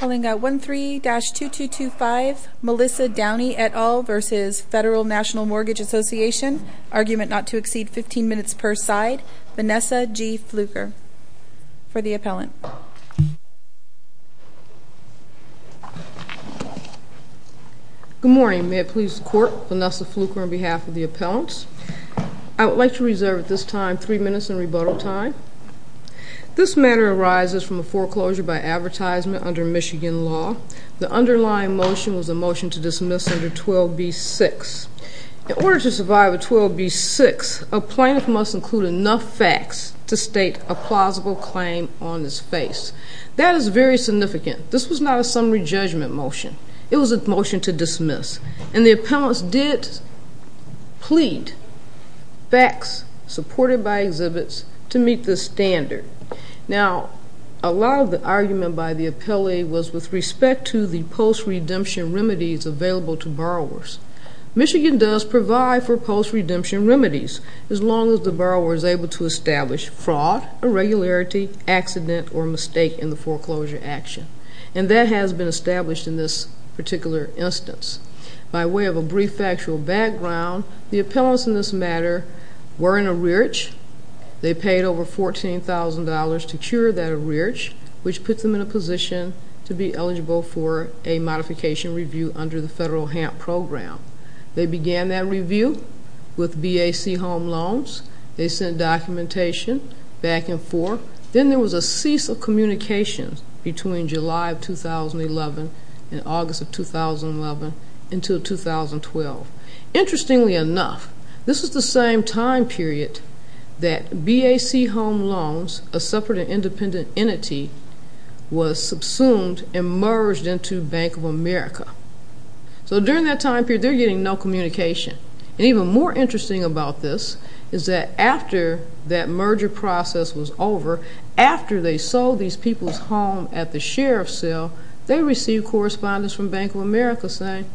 VFW-13-2225 Melissa Downey et al. v. FNMA Argument not to exceed 15 minutes per side Vanessa G. Fluker For the Appellant Good morning. May it please the Court, Vanessa Fluker on behalf of the Appellants. I would like to reserve at this time 3 minutes in rebuttal time. This matter arises from a foreclosure by advertisement under Michigan law. The underlying motion was a motion to dismiss under 12b-6. In order to survive a 12b-6, a Plaintiff must include enough facts to state a plausible claim on his face. That is very significant. This was not a summary judgment motion. It was a motion to dismiss. And the Appellants did plead facts supported by exhibits to meet this standard. Now, a lot of the argument by the Appellee was with respect to the post-redemption remedies available to borrowers. Michigan does provide for post-redemption remedies as long as the borrower is able to establish fraud, irregularity, accident, or mistake in the foreclosure action. And that has been established in this particular instance. By way of a brief factual background, the Appellants in this matter were in a rearage. They paid over $14,000 to cure that rearage, which puts them in a position to be eligible for a modification review under the Federal HAMP Program. They began that review with BAC home loans. They sent documentation back and forth. Then there was a cease of communication between July of 2011 and August of 2011 until 2012. Interestingly enough, this was the same time period that BAC home loans, a separate and independent entity, was subsumed and merged into Bank of America. So during that time period, they're getting no communication. And even more interesting about this is that after that merger process was over, after they sold these people's home at the sheriff's sale, they received correspondence from Bank of America saying,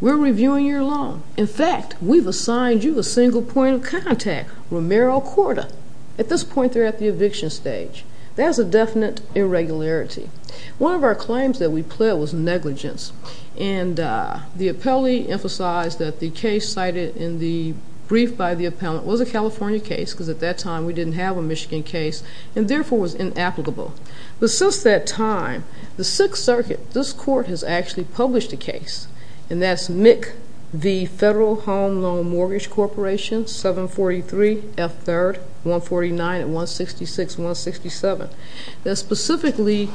we're reviewing your loan. In fact, we've assigned you a single point of contact, Romero Cordo. At this point, they're at the eviction stage. There's a definite irregularity. One of our claims that we pled was negligence. And the appellee emphasized that the case cited in the brief by the appellant was a California case because at that time we didn't have a Michigan case and, therefore, was inapplicable. But since that time, the Sixth Circuit, this court has actually published a case, and that's MIC, the Federal Home Loan Mortgage Corporation, 743 F. 3rd, 149 and 166-167, that specifically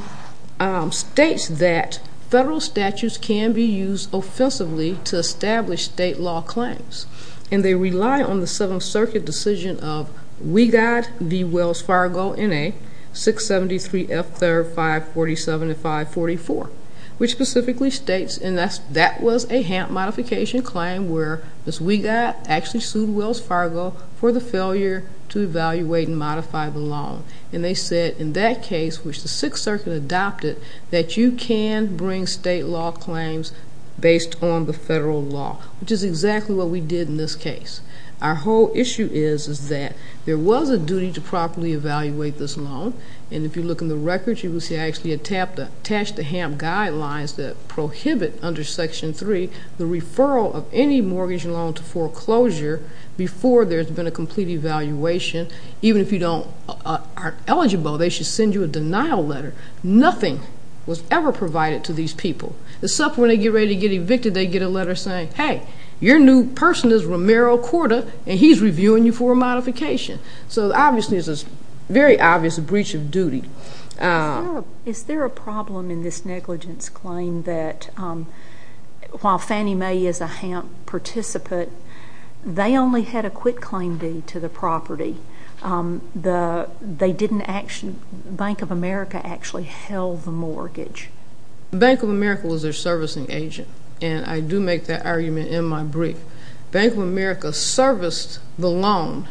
states that federal statutes can be used offensively to establish state law claims. And they rely on the Seventh Circuit decision of WGAD v. Wells Fargo in a 673 F. 3rd, 547 and 544, which specifically states, and that was a HAMP modification claim where Ms. WGAD actually sued Wells Fargo for the failure to evaluate and modify the loan. And they said in that case, which the Sixth Circuit adopted, that you can bring state law claims based on the federal law, which is exactly what we did in this case. Our whole issue is that there was a duty to properly evaluate this loan. And if you look in the records, you will see I actually attached the HAMP guidelines that prohibit under Section 3 the referral of any mortgage loan to foreclosure before there's been a complete evaluation, even if you are eligible, they should send you a denial letter. Nothing was ever provided to these people, except when they get ready to get evicted, they get a letter saying, hey, your new person is Romero Cordo, and he's reviewing you for a modification. So obviously it's a very obvious breach of duty. Is there a problem in this negligence claim that while Fannie Mae is a HAMP participant, that they only had a quitclaim deed to the property? They didn't actually, Bank of America actually held the mortgage. Bank of America was their servicing agent, and I do make that argument in my brief. Bank of America serviced the loan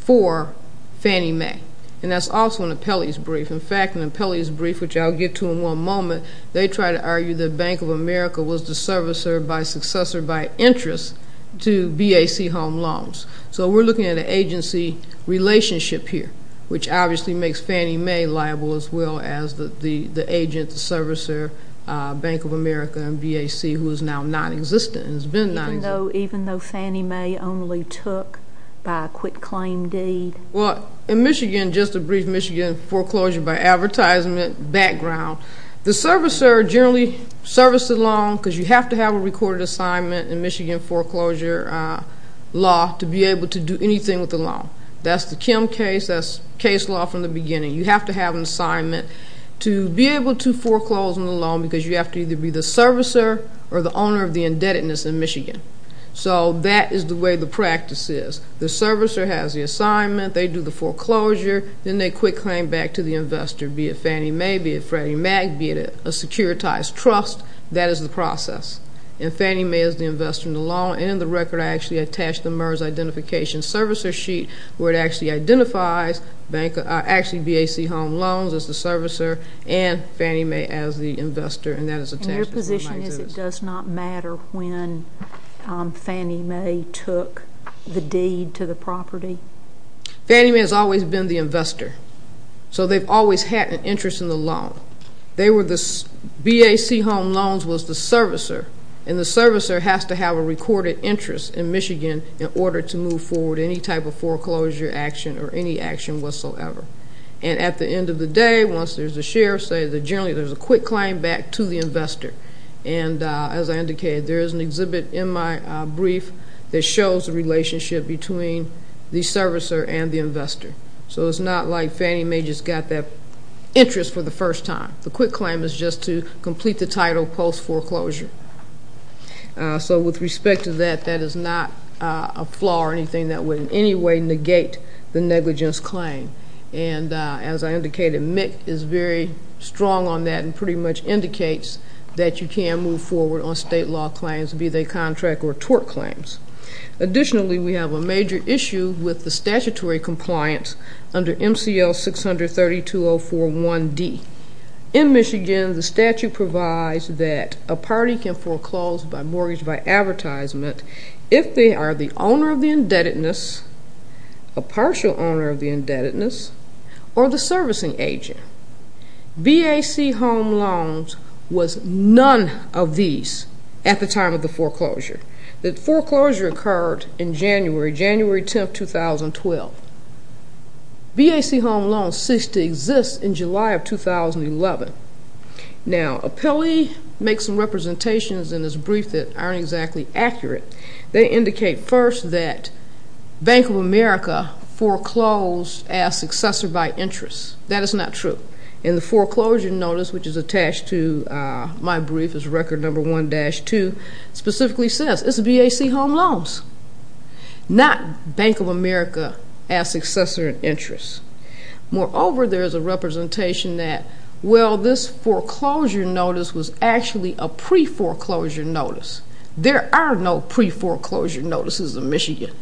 for Fannie Mae, and that's also in the Pelley's brief. In fact, in the Pelley's brief, which I'll get to in one moment, they try to argue that Bank of America was the servicer by successor by interest to BAC Home Loans. So we're looking at an agency relationship here, which obviously makes Fannie Mae liable as well as the agent, the servicer, Bank of America, and BAC, who is now nonexistent and has been nonexistent. Even though Fannie Mae only took by a quitclaim deed? Well, in Michigan, just a brief Michigan foreclosure by advertisement background, the servicer generally serviced the loan because you have to have a recorded assignment in Michigan foreclosure law to be able to do anything with the loan. That's the Kim case. That's case law from the beginning. You have to have an assignment to be able to foreclose on the loan because you have to either be the servicer or the owner of the indebtedness in Michigan. So that is the way the practice is. The servicer has the assignment. They do the foreclosure. Then they quitclaim back to the investor, be it Fannie Mae, be it Freddie Mac, be it a securitized trust. That is the process. And Fannie Mae is the investor in the loan. And in the record, I actually attached the MERS identification servicer sheet, where it actually identifies actually BAC Home Loans as the servicer and Fannie Mae as the investor, and that is attached as it might exist. And your position is it does not matter when Fannie Mae took the deed to the property? Fannie Mae has always been the investor. So they've always had an interest in the loan. BAC Home Loans was the servicer, and the servicer has to have a recorded interest in Michigan in order to move forward any type of foreclosure action or any action whatsoever. And at the end of the day, once there's a share, generally there's a quick claim back to the investor. And as I indicated, there is an exhibit in my brief that shows the relationship between the servicer and the investor. So it's not like Fannie Mae just got that interest for the first time. The quick claim is just to complete the title post-foreclosure. So with respect to that, that is not a flaw or anything that would in any way negate the negligence claim. And as I indicated, Mick is very strong on that and pretty much indicates that you can move forward on state law claims, be they contract or tort claims. Additionally, we have a major issue with the statutory compliance under MCL 630-2041D. In Michigan, the statute provides that a party can foreclose by mortgage by advertisement if they are the owner of the indebtedness, a partial owner of the indebtedness, or the servicing agent. BAC Home Loans was none of these at the time of the foreclosure. The foreclosure occurred in January, January 10, 2012. BAC Home Loans ceased to exist in July of 2011. Now, Apelli makes some representations in this brief that aren't exactly accurate. They indicate first that Bank of America foreclosed as successor by interest. That is not true. In the foreclosure notice, which is attached to my brief as record number 1-2, specifically says it's BAC Home Loans, not Bank of America as successor in interest. Moreover, there is a representation that, well, this foreclosure notice was actually a pre-foreclosure notice. There are no pre-foreclosure notices in Michigan.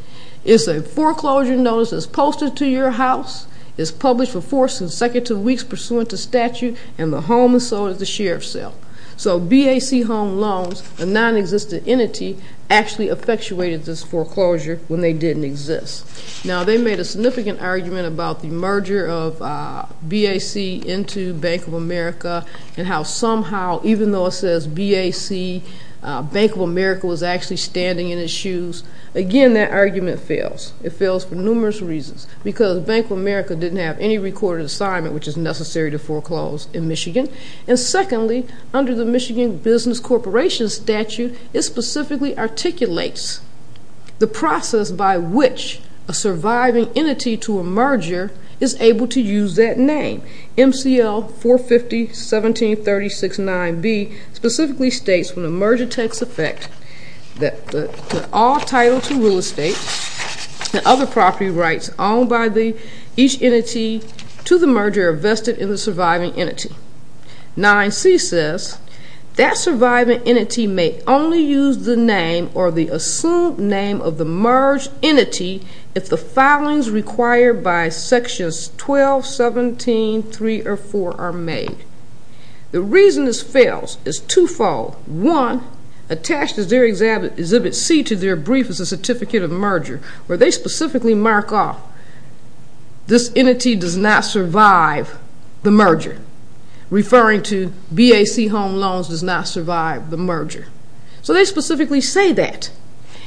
It's a foreclosure notice that's posted to your house, is published for four consecutive weeks pursuant to statute, and the home is sold at the sheriff's sale. So BAC Home Loans, a nonexistent entity, actually effectuated this foreclosure when they didn't exist. Now, they made a significant argument about the merger of BAC into Bank of America and how somehow, even though it says BAC, Bank of America was actually standing in its shoes. Again, that argument fails. It fails for numerous reasons because Bank of America didn't have any recorded assignment, and secondly, under the Michigan Business Corporation statute, it specifically articulates the process by which a surviving entity to a merger is able to use that name. MCL 450-1736-9B specifically states when a merger takes effect that all title to real estate and other property rights owned by each entity to the merger are vested in the surviving entity. 9C says that surviving entity may only use the name or the assumed name of the merged entity if the filings required by sections 12, 17, 3, or 4 are made. The reason this fails is twofold. One, attached as their Exhibit C to their brief is a certificate of merger where they specifically mark off this entity does not survive the merger, referring to BAC Home Loans does not survive the merger. So they specifically say that.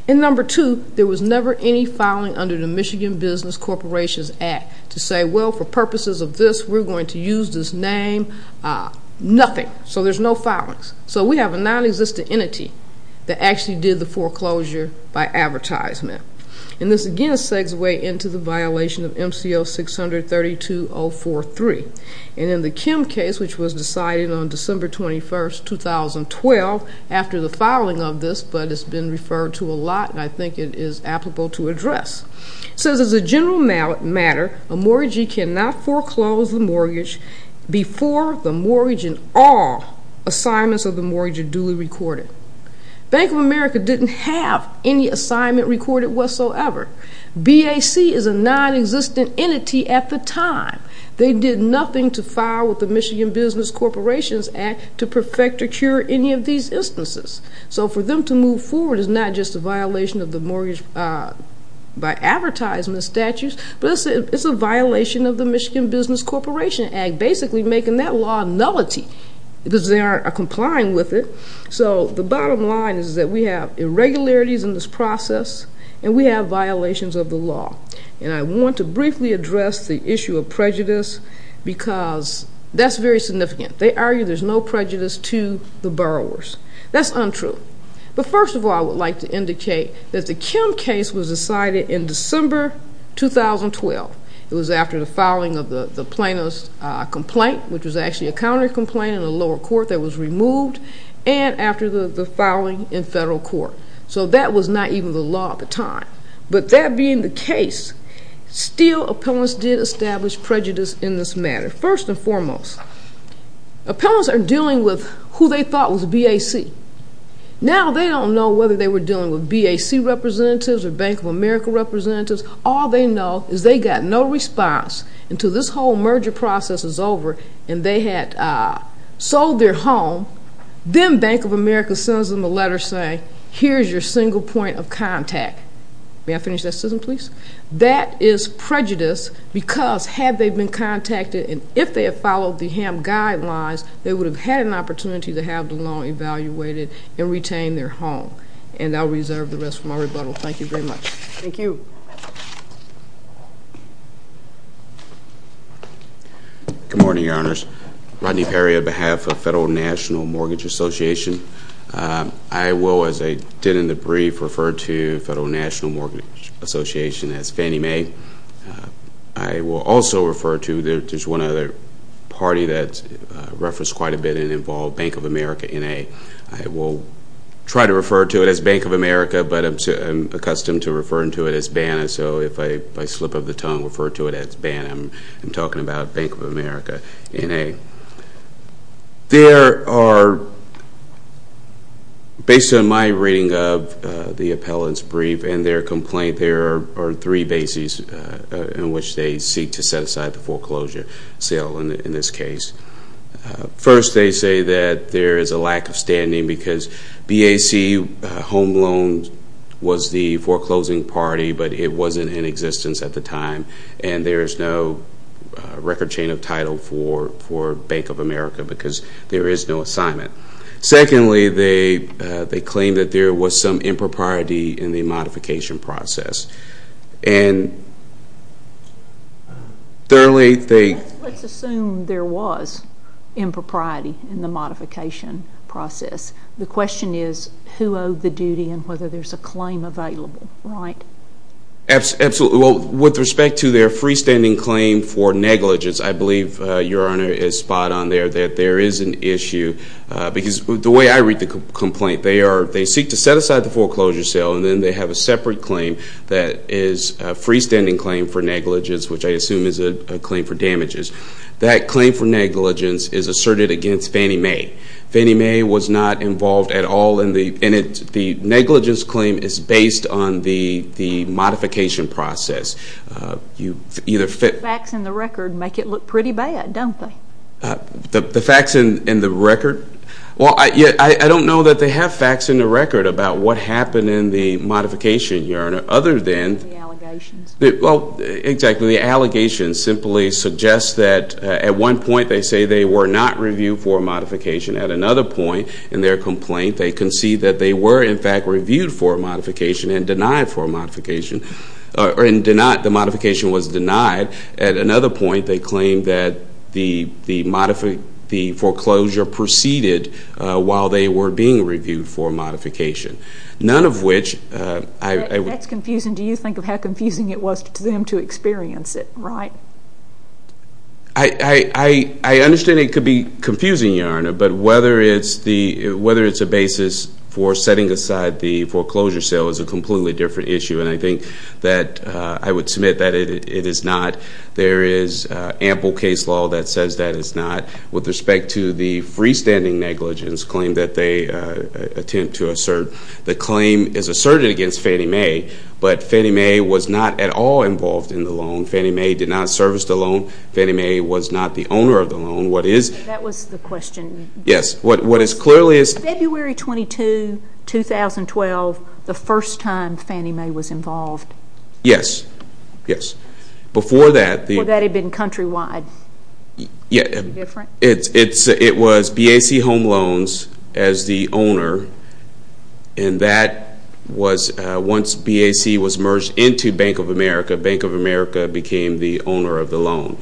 And number two, there was never any filing under the Michigan Business Corporation's Act to say, well, for purposes of this, we're going to use this name. Nothing. So there's no filings. So we have a nonexistent entity that actually did the foreclosure by advertisement. And this, again, segues way into the violation of MCL 632-043. And in the Kim case, which was decided on December 21, 2012, after the filing of this, but it's been referred to a lot and I think it is applicable to address. It says, as a general matter, a mortgagee cannot foreclose the mortgage before the mortgage and all assignments of the mortgage are duly recorded. Bank of America didn't have any assignment recorded whatsoever. BAC is a nonexistent entity at the time. They did nothing to file with the Michigan Business Corporation's Act to perfect or cure any of these instances. So for them to move forward is not just a violation of the mortgage by advertisement statutes, but it's a violation of the Michigan Business Corporation Act, basically making that law nullity because they aren't complying with it. So the bottom line is that we have irregularities in this process and we have violations of the law. And I want to briefly address the issue of prejudice because that's very significant. They argue there's no prejudice to the borrowers. That's untrue. But first of all, I would like to indicate that the Kim case was decided in December, 2012. It was after the filing of the plaintiff's complaint, which was actually a counter-complaint in the lower court that was removed, and after the filing in federal court. So that was not even the law at the time. But that being the case, still, appellants did establish prejudice in this matter. First and foremost, appellants are dealing with who they thought was BAC. Now they don't know whether they were dealing with BAC representatives or Bank of America representatives. All they know is they got no response until this whole merger process is over and they had sold their home. Then Bank of America sends them a letter saying, here's your single point of contact. May I finish that sentence, please? That is prejudice because had they been contacted and if they had followed the HAM guidelines, they would have had an opportunity to have the loan evaluated and retain their home. And I'll reserve the rest for my rebuttal. Thank you very much. Thank you. Good morning, Your Honors. Rodney Perry on behalf of Federal National Mortgage Association. I will, as I did in the brief, refer to Federal National Mortgage Association as Fannie Mae. I will also refer to, there's one other party that's referenced quite a bit and involved, Bank of America, N.A. I will try to refer to it as Bank of America, but I'm accustomed to referring to it as BANA. So if I slip of the tongue, refer to it as BANA. I'm talking about Bank of America, N.A. There are, based on my reading of the appellant's brief and their complaint, there are three bases in which they seek to set aside the foreclosure sale in this case. First, they say that there is a lack of standing because BAC home loan was the foreclosing party, but it wasn't in existence at the time, and there is no record chain of title for Bank of America because there is no assignment. Secondly, they claim that there was some impropriety in the modification process. Let's assume there was impropriety in the modification process. The question is who owed the duty and whether there's a claim available, right? Absolutely. Well, with respect to their freestanding claim for negligence, I believe Your Honor is spot on there that there is an issue because the way I read the complaint, they seek to set aside the foreclosure sale, and then they have a separate claim that is a freestanding claim for negligence, which I assume is a claim for damages. That claim for negligence is asserted against Fannie Mae. Fannie Mae was not involved at all, and the negligence claim is based on the modification process. The facts in the record make it look pretty bad, don't they? The facts in the record? Well, I don't know that they have facts in the record about what happened in the modification, Your Honor, Well, exactly. The allegations simply suggest that at one point they say they were not reviewed for a modification. At another point in their complaint, they concede that they were, in fact, reviewed for a modification and denied for a modification. The modification was denied. At another point, they claim that the foreclosure proceeded while they were being reviewed for a modification. That's confusing. Do you think of how confusing it was to them to experience it, right? I understand it could be confusing, Your Honor, but whether it's a basis for setting aside the foreclosure sale is a completely different issue, and I think that I would submit that it is not. There is ample case law that says that it's not. With respect to the freestanding negligence claim that they attempt to assert, the claim is asserted against Fannie Mae, but Fannie Mae was not at all involved in the loan. Fannie Mae did not service the loan. Fannie Mae was not the owner of the loan. That was the question. Yes. What is clearly is February 22, 2012, the first time Fannie Mae was involved. Yes. Yes. Before that, the Well, that had been countrywide. Is it different? It was BAC Home Loans as the owner, and that was once BAC was merged into Bank of America, Bank of America became the owner of the loan.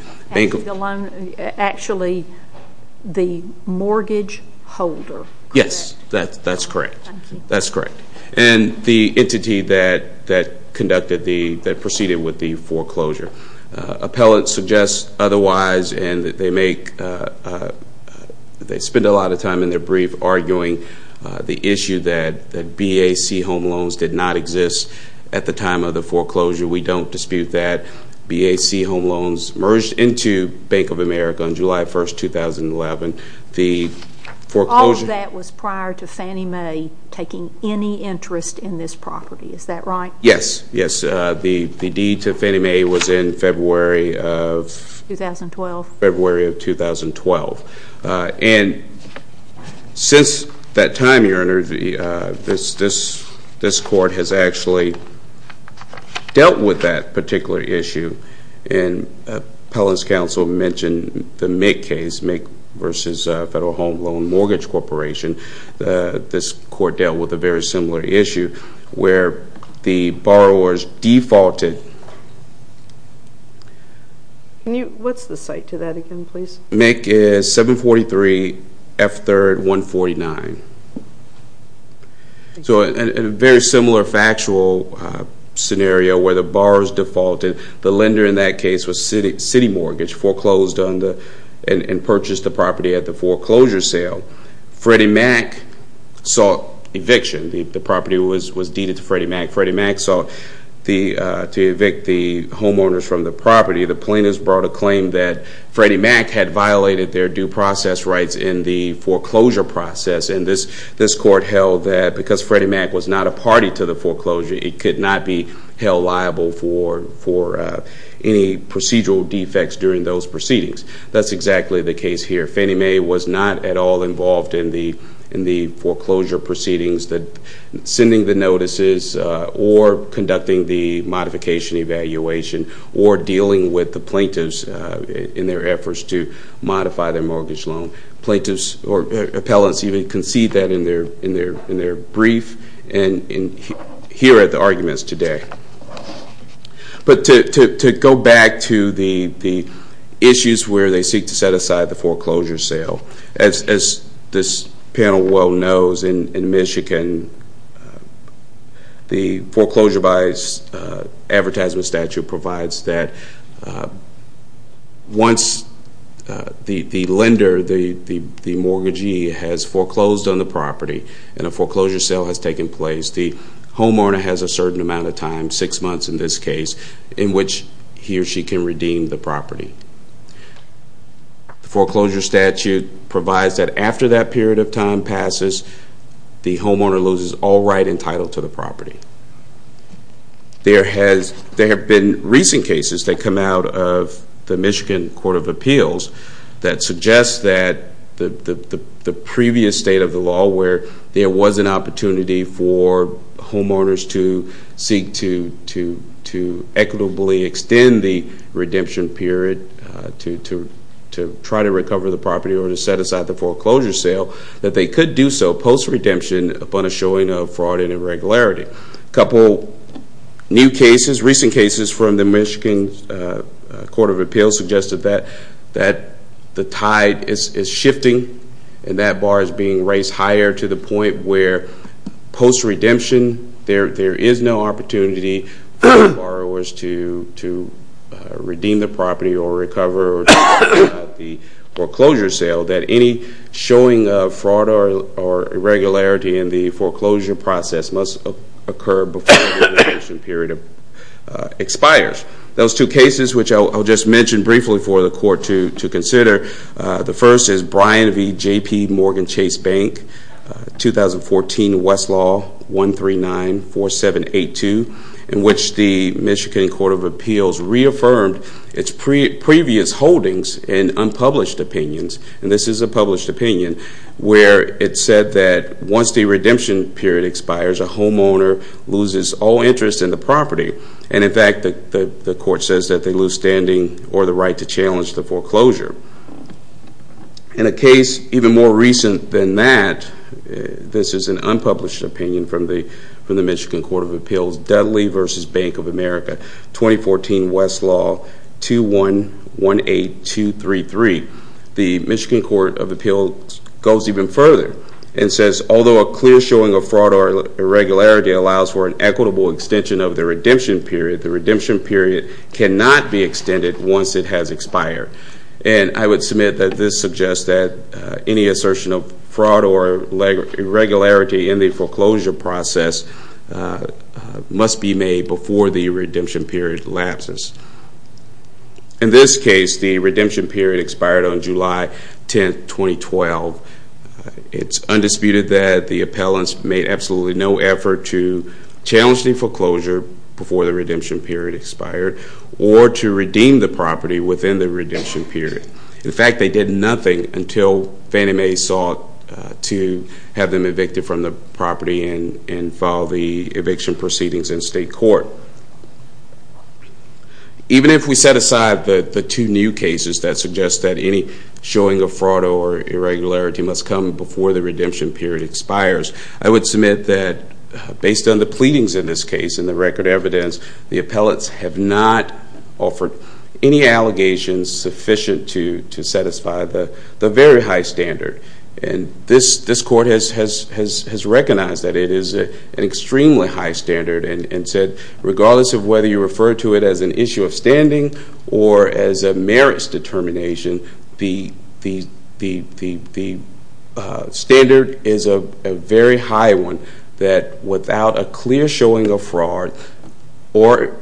Actually, the mortgage holder, correct? Yes, that's correct. Thank you. That's correct. And the entity that conducted the, that proceeded with the foreclosure. Appellants suggest otherwise, and they make, they spend a lot of time in their brief arguing the issue that BAC Home Loans did not exist at the time of the foreclosure. We don't dispute that. BAC Home Loans merged into Bank of America on July 1, 2011. The foreclosure All of that was prior to Fannie Mae taking any interest in this property. Is that right? Yes. Yes. The deed to Fannie Mae was in February of 2012. February of 2012. And since that time, Your Honor, this court has actually dealt with that particular issue, and Appellant's counsel mentioned the Mick case, Mick versus Federal Home Loan Mortgage Corporation. This court dealt with a very similar issue where the borrowers defaulted. What's the cite to that again, please? Mick is 743 F3rd 149. So a very similar factual scenario where the borrowers defaulted. The lender in that case was City Mortgage, foreclosed on the, and purchased the property at the foreclosure sale. Freddie Mac sought eviction. The property was deeded to Freddie Mac. Freddie Mac sought to evict the homeowners from the property. The plaintiffs brought a claim that Freddie Mac had violated their due process rights in the foreclosure process, and this court held that because Freddie Mac was not a party to the foreclosure, it could not be held liable for any procedural defects during those proceedings. That's exactly the case here. Freddie Mac was not at all involved in the foreclosure proceedings, sending the notices or conducting the modification evaluation or dealing with the plaintiffs in their efforts to modify their mortgage loan. Plaintiffs or appellants even concede that in their brief and hear the arguments today. But to go back to the issues where they seek to set aside the foreclosure sale, as this panel well knows in Michigan, the foreclosure buys advertisement statute provides that once the lender, the mortgagee, has foreclosed on the property and a foreclosure sale has taken place, the homeowner has a certain amount of time, six months in this case, in which he or she can redeem the property. The foreclosure statute provides that after that period of time passes, the homeowner loses all right entitled to the property. There have been recent cases that come out of the Michigan Court of Appeals that suggest that the previous state of the law where there was an opportunity for homeowners to seek to equitably extend the redemption period to try to recover the property or to set aside the foreclosure sale, that they could do so post-redemption upon a showing of fraud and irregularity. A couple new cases, recent cases from the Michigan Court of Appeals suggested that the tide is shifting and that bar is being raised higher to the point where post-redemption there is no opportunity for borrowers to redeem the property or recover the foreclosure sale, that any showing of fraud or irregularity in the foreclosure process must occur before the redemption period expires. Those two cases, which I'll just mention briefly for the court to consider, the first is Bryan v. JPMorgan Chase Bank, 2014 Westlaw 1394782, in which the Michigan Court of Appeals reaffirmed its previous holdings and unpublished opinions. And this is a published opinion where it said that once the redemption period expires, a homeowner loses all interest in the property. And in fact, the court says that they lose standing or the right to challenge the foreclosure. In a case even more recent than that, this is an unpublished opinion from the Michigan Court of Appeals, Dudley v. Bank of America, 2014 Westlaw 2118233. The Michigan Court of Appeals goes even further and says, although a clear showing of fraud or irregularity allows for an equitable extension of the redemption period, the redemption period cannot be extended once it has expired. And I would submit that this suggests that any assertion of fraud or irregularity in the foreclosure process must be made before the redemption period lapses. In this case, the redemption period expired on July 10, 2012. It's undisputed that the appellants made absolutely no effort to challenge the foreclosure before the redemption period expired or to redeem the property within the redemption period. In fact, they did nothing until Fannie Mae sought to have them evicted from the property and file the eviction proceedings in state court. Even if we set aside the two new cases that suggest that any showing of fraud or irregularity must come before the redemption period expires, I would submit that based on the pleadings in this case and the record evidence, the appellants have not offered any allegations sufficient to satisfy the very high standard. And this court has recognized that it is an extremely high standard and said, regardless of whether you refer to it as an issue of standing or as a merits determination, the standard is a very high one that without a clear showing of fraud or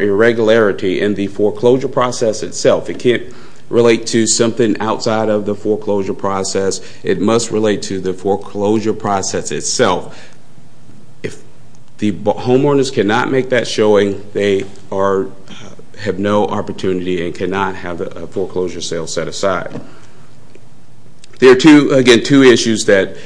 irregularity in the foreclosure process itself, it can't relate to something outside of the foreclosure process. It must relate to the foreclosure process itself. If the homeowners cannot make that showing, they have no opportunity and cannot have a foreclosure sale set aside. There are, again, two issues that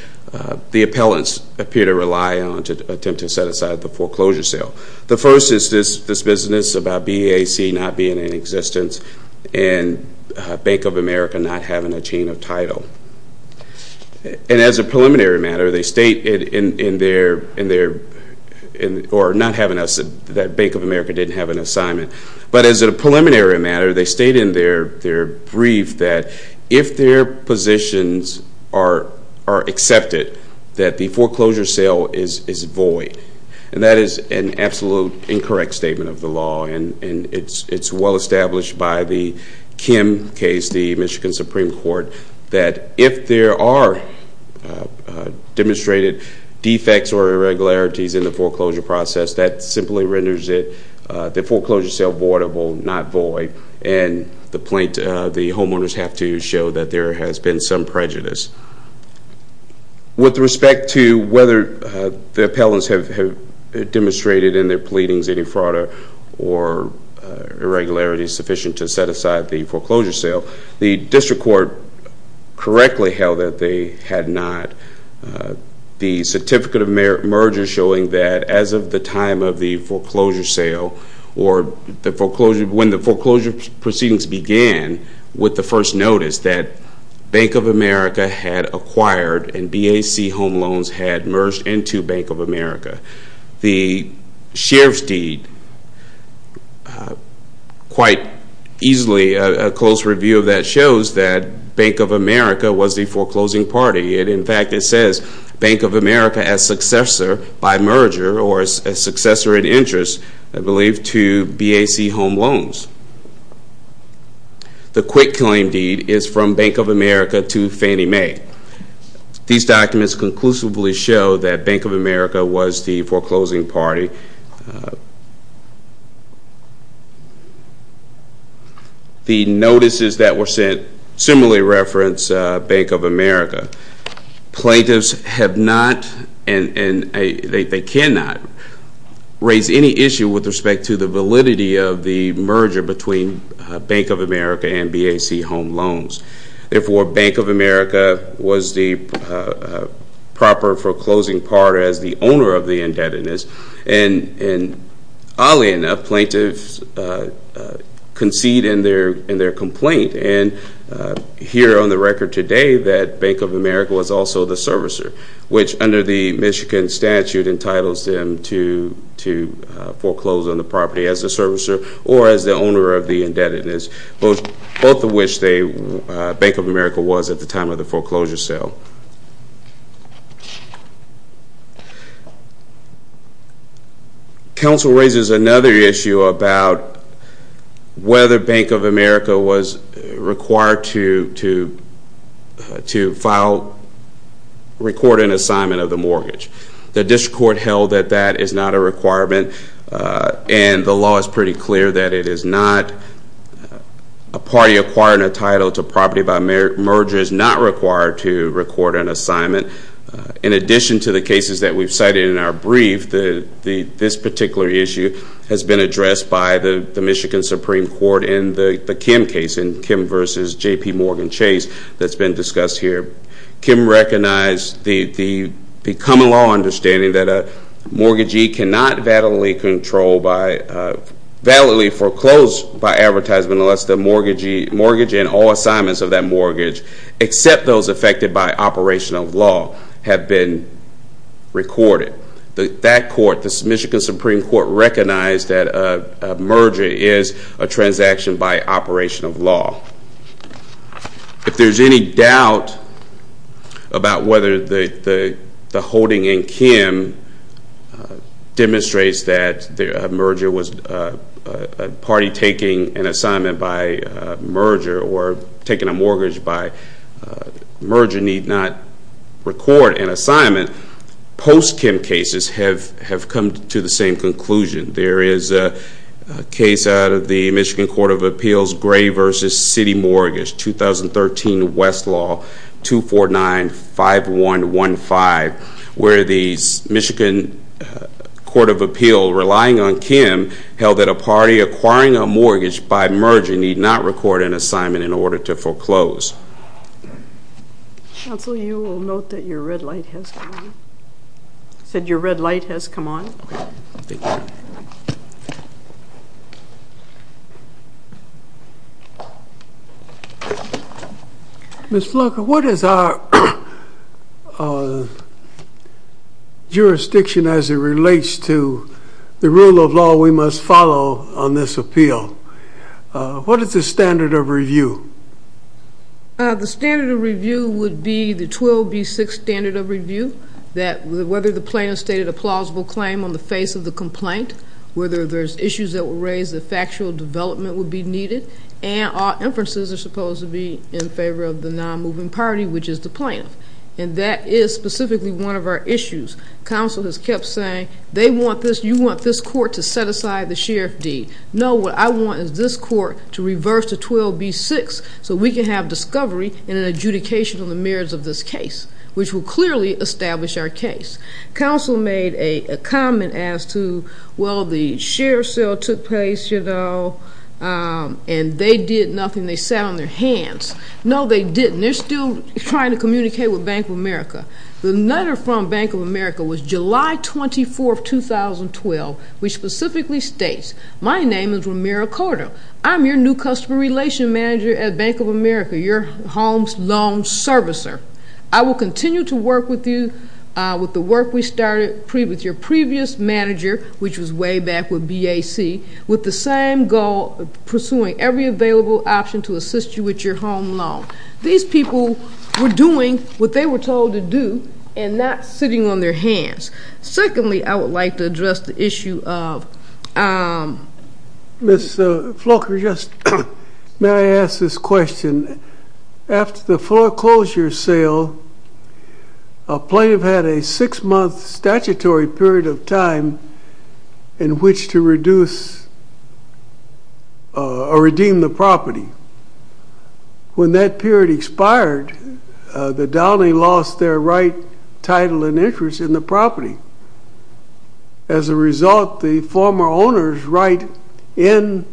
the appellants appear to rely on to attempt to set aside the foreclosure sale. The first is this business about BEAC not being in existence and Bank of America not having a chain of title. And as a preliminary matter, they state in their – or not having – that Bank of America didn't have an assignment. But as a preliminary matter, they state in their brief that if their positions are accepted, that the foreclosure sale is void. And that is an absolute incorrect statement of the law, and it's well established by the Kim case, the Michigan Supreme Court, that if there are demonstrated defects or irregularities in the foreclosure process, that simply renders it – the foreclosure sale voidable, not void, and the homeowners have to show that there has been some prejudice. With respect to whether the appellants have demonstrated in their pleadings any fraud or irregularities sufficient to set aside the foreclosure sale, the district court correctly held that they had not. The certificate of merger showing that as of the time of the foreclosure sale or when the foreclosure proceedings began with the first notice that Bank of America had acquired and BEAC home loans had merged into Bank of America. The sheriff's deed, quite easily a close review of that shows that Bank of America was the foreclosing party. In fact, it says Bank of America as successor by merger or as successor in interest, I believe, to BEAC home loans. The quick claim deed is from Bank of America to Fannie Mae. These documents conclusively show that Bank of America was the foreclosing party. The notices that were sent similarly reference Bank of America. Plaintiffs have not and they cannot raise any issue with respect to the validity of the merger between Bank of America and BEAC home loans. Therefore, Bank of America was the proper foreclosing party as the owner of the indebtedness and oddly enough, plaintiffs concede in their complaint and hear on the record today that Bank of America was also the servicer, which under the Michigan statute entitles them to foreclose on the property as a servicer or as the owner of the indebtedness, both of which Bank of America was at the time of the foreclosure sale. Counsel raises another issue about whether Bank of America was required to file, record an assignment of the mortgage. The district court held that that is not a requirement and the law is pretty clear that it is not. A party acquiring a title to property by merger is not required to record an assignment. In addition to the cases that we've cited in our brief, this particular issue has been addressed by the Michigan Supreme Court in the Kim case, in Kim versus JPMorgan Chase that's been discussed here. Kim recognized the common law understanding that a mortgagee cannot validly control by, validly foreclose by advertisement unless the mortgagee, mortgage and all assignments of that mortgage except those affected by operation of law have been recorded. That court, the Michigan Supreme Court recognized that a merger is a transaction by operation of law. If there's any doubt about whether the holding in Kim demonstrates that a merger was a party taking an assignment by merger or taking a mortgage by merger need not record an assignment, post-Kim cases have come to the same conclusion. There is a case out of the Michigan Court of Appeals, Gray versus City Mortgage, 2013 Westlaw 249-5115 where the Michigan Court of Appeals relying on Kim held that a party acquiring a mortgage by merger need not record an assignment in order to foreclose. Counsel, you will note that your red light has come on. Ms. Flucker, what is our jurisdiction as it relates to the rule of law we must follow on this appeal? What is the standard of review? The standard of review would be the 12B6 standard of review, that whether the plaintiff stated a plausible claim on the face of the complaint, whether there's issues that were raised that factual development would be needed, and all inferences are supposed to be in favor of the non-moving party, which is the plaintiff. And that is specifically one of our issues. Counsel has kept saying, they want this, you want this court to set aside the sheriff deed. No, what I want is this court to reverse the 12B6 so we can have discovery and an adjudication on the merits of this case, which will clearly establish our case. Counsel made a comment as to, well, the sheriff's sale took place, you know, and they did nothing. They sat on their hands. No, they didn't. They're still trying to communicate with Bank of America. The letter from Bank of America was July 24, 2012, which specifically states, my name is Romero Cordo. I'm your new customer relation manager at Bank of America, your home loan servicer. I will continue to work with you with the work we started with your previous manager, which was way back with BAC, with the same goal, pursuing every available option to assist you with your home loan. These people were doing what they were told to do and not sitting on their hands. Secondly, I would like to address the issue of ‑‑ Ms. Flocker, may I ask this question? After the foreclosure sale, a plaintiff had a six-month statutory period of time in which to reduce or redeem the property. When that period expired, the downing lost their right, title, and interest in the property. As a result, the former owner's right in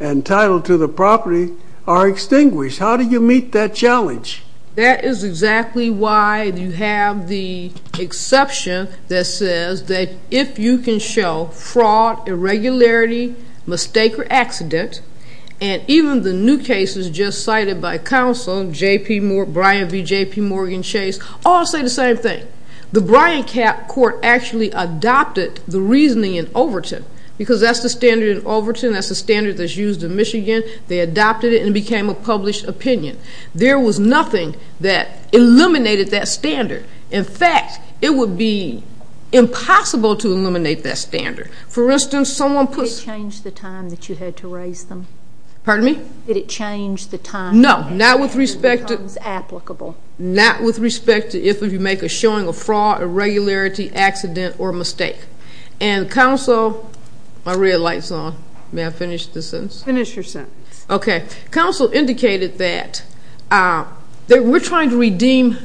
and title to the property are extinguished. How do you meet that challenge? That is exactly why you have the exception that says that if you can show fraud, irregularity, mistake or accident, and even the new cases just cited by counsel, Brian v. J.P. Morgan Chase, all say the same thing. The Brian court actually adopted the reasoning in Overton because that's the standard in Overton, that's the standard that's used in Michigan. They adopted it and it became a published opinion. There was nothing that eliminated that standard. In fact, it would be impossible to eliminate that standard. For instance, someone puts- Did it change the time that you had to raise them? Pardon me? Did it change the time- No, not with respect to- It becomes applicable. Not with respect to if you make a showing of fraud, irregularity, accident, or mistake. And counsel-my red light's on. May I finish the sentence? Finish your sentence. Okay. Counsel indicated that we're trying to redeem,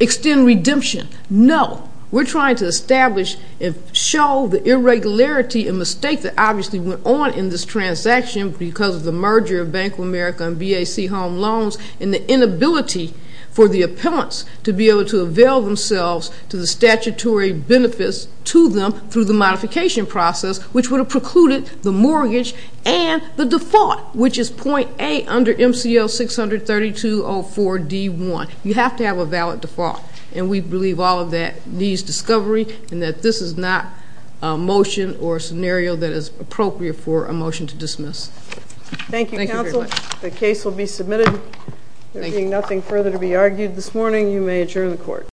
extend redemption. No. We're trying to establish and show the irregularity and mistake that obviously went on in this transaction because of the merger of Bank of America and BAC Home Loans and the inability for the appellants to be able to avail themselves to the statutory benefits to them through the modification process, which would have precluded the mortgage and the default, which is point A under MCL 632-04-D1. You have to have a valid default, and we believe all of that needs discovery and that this is not a motion or a scenario that is appropriate for a motion to dismiss. Thank you very much. Thank you, counsel. The case will be submitted. Thank you. There being nothing further to be argued this morning, you may adjourn the court.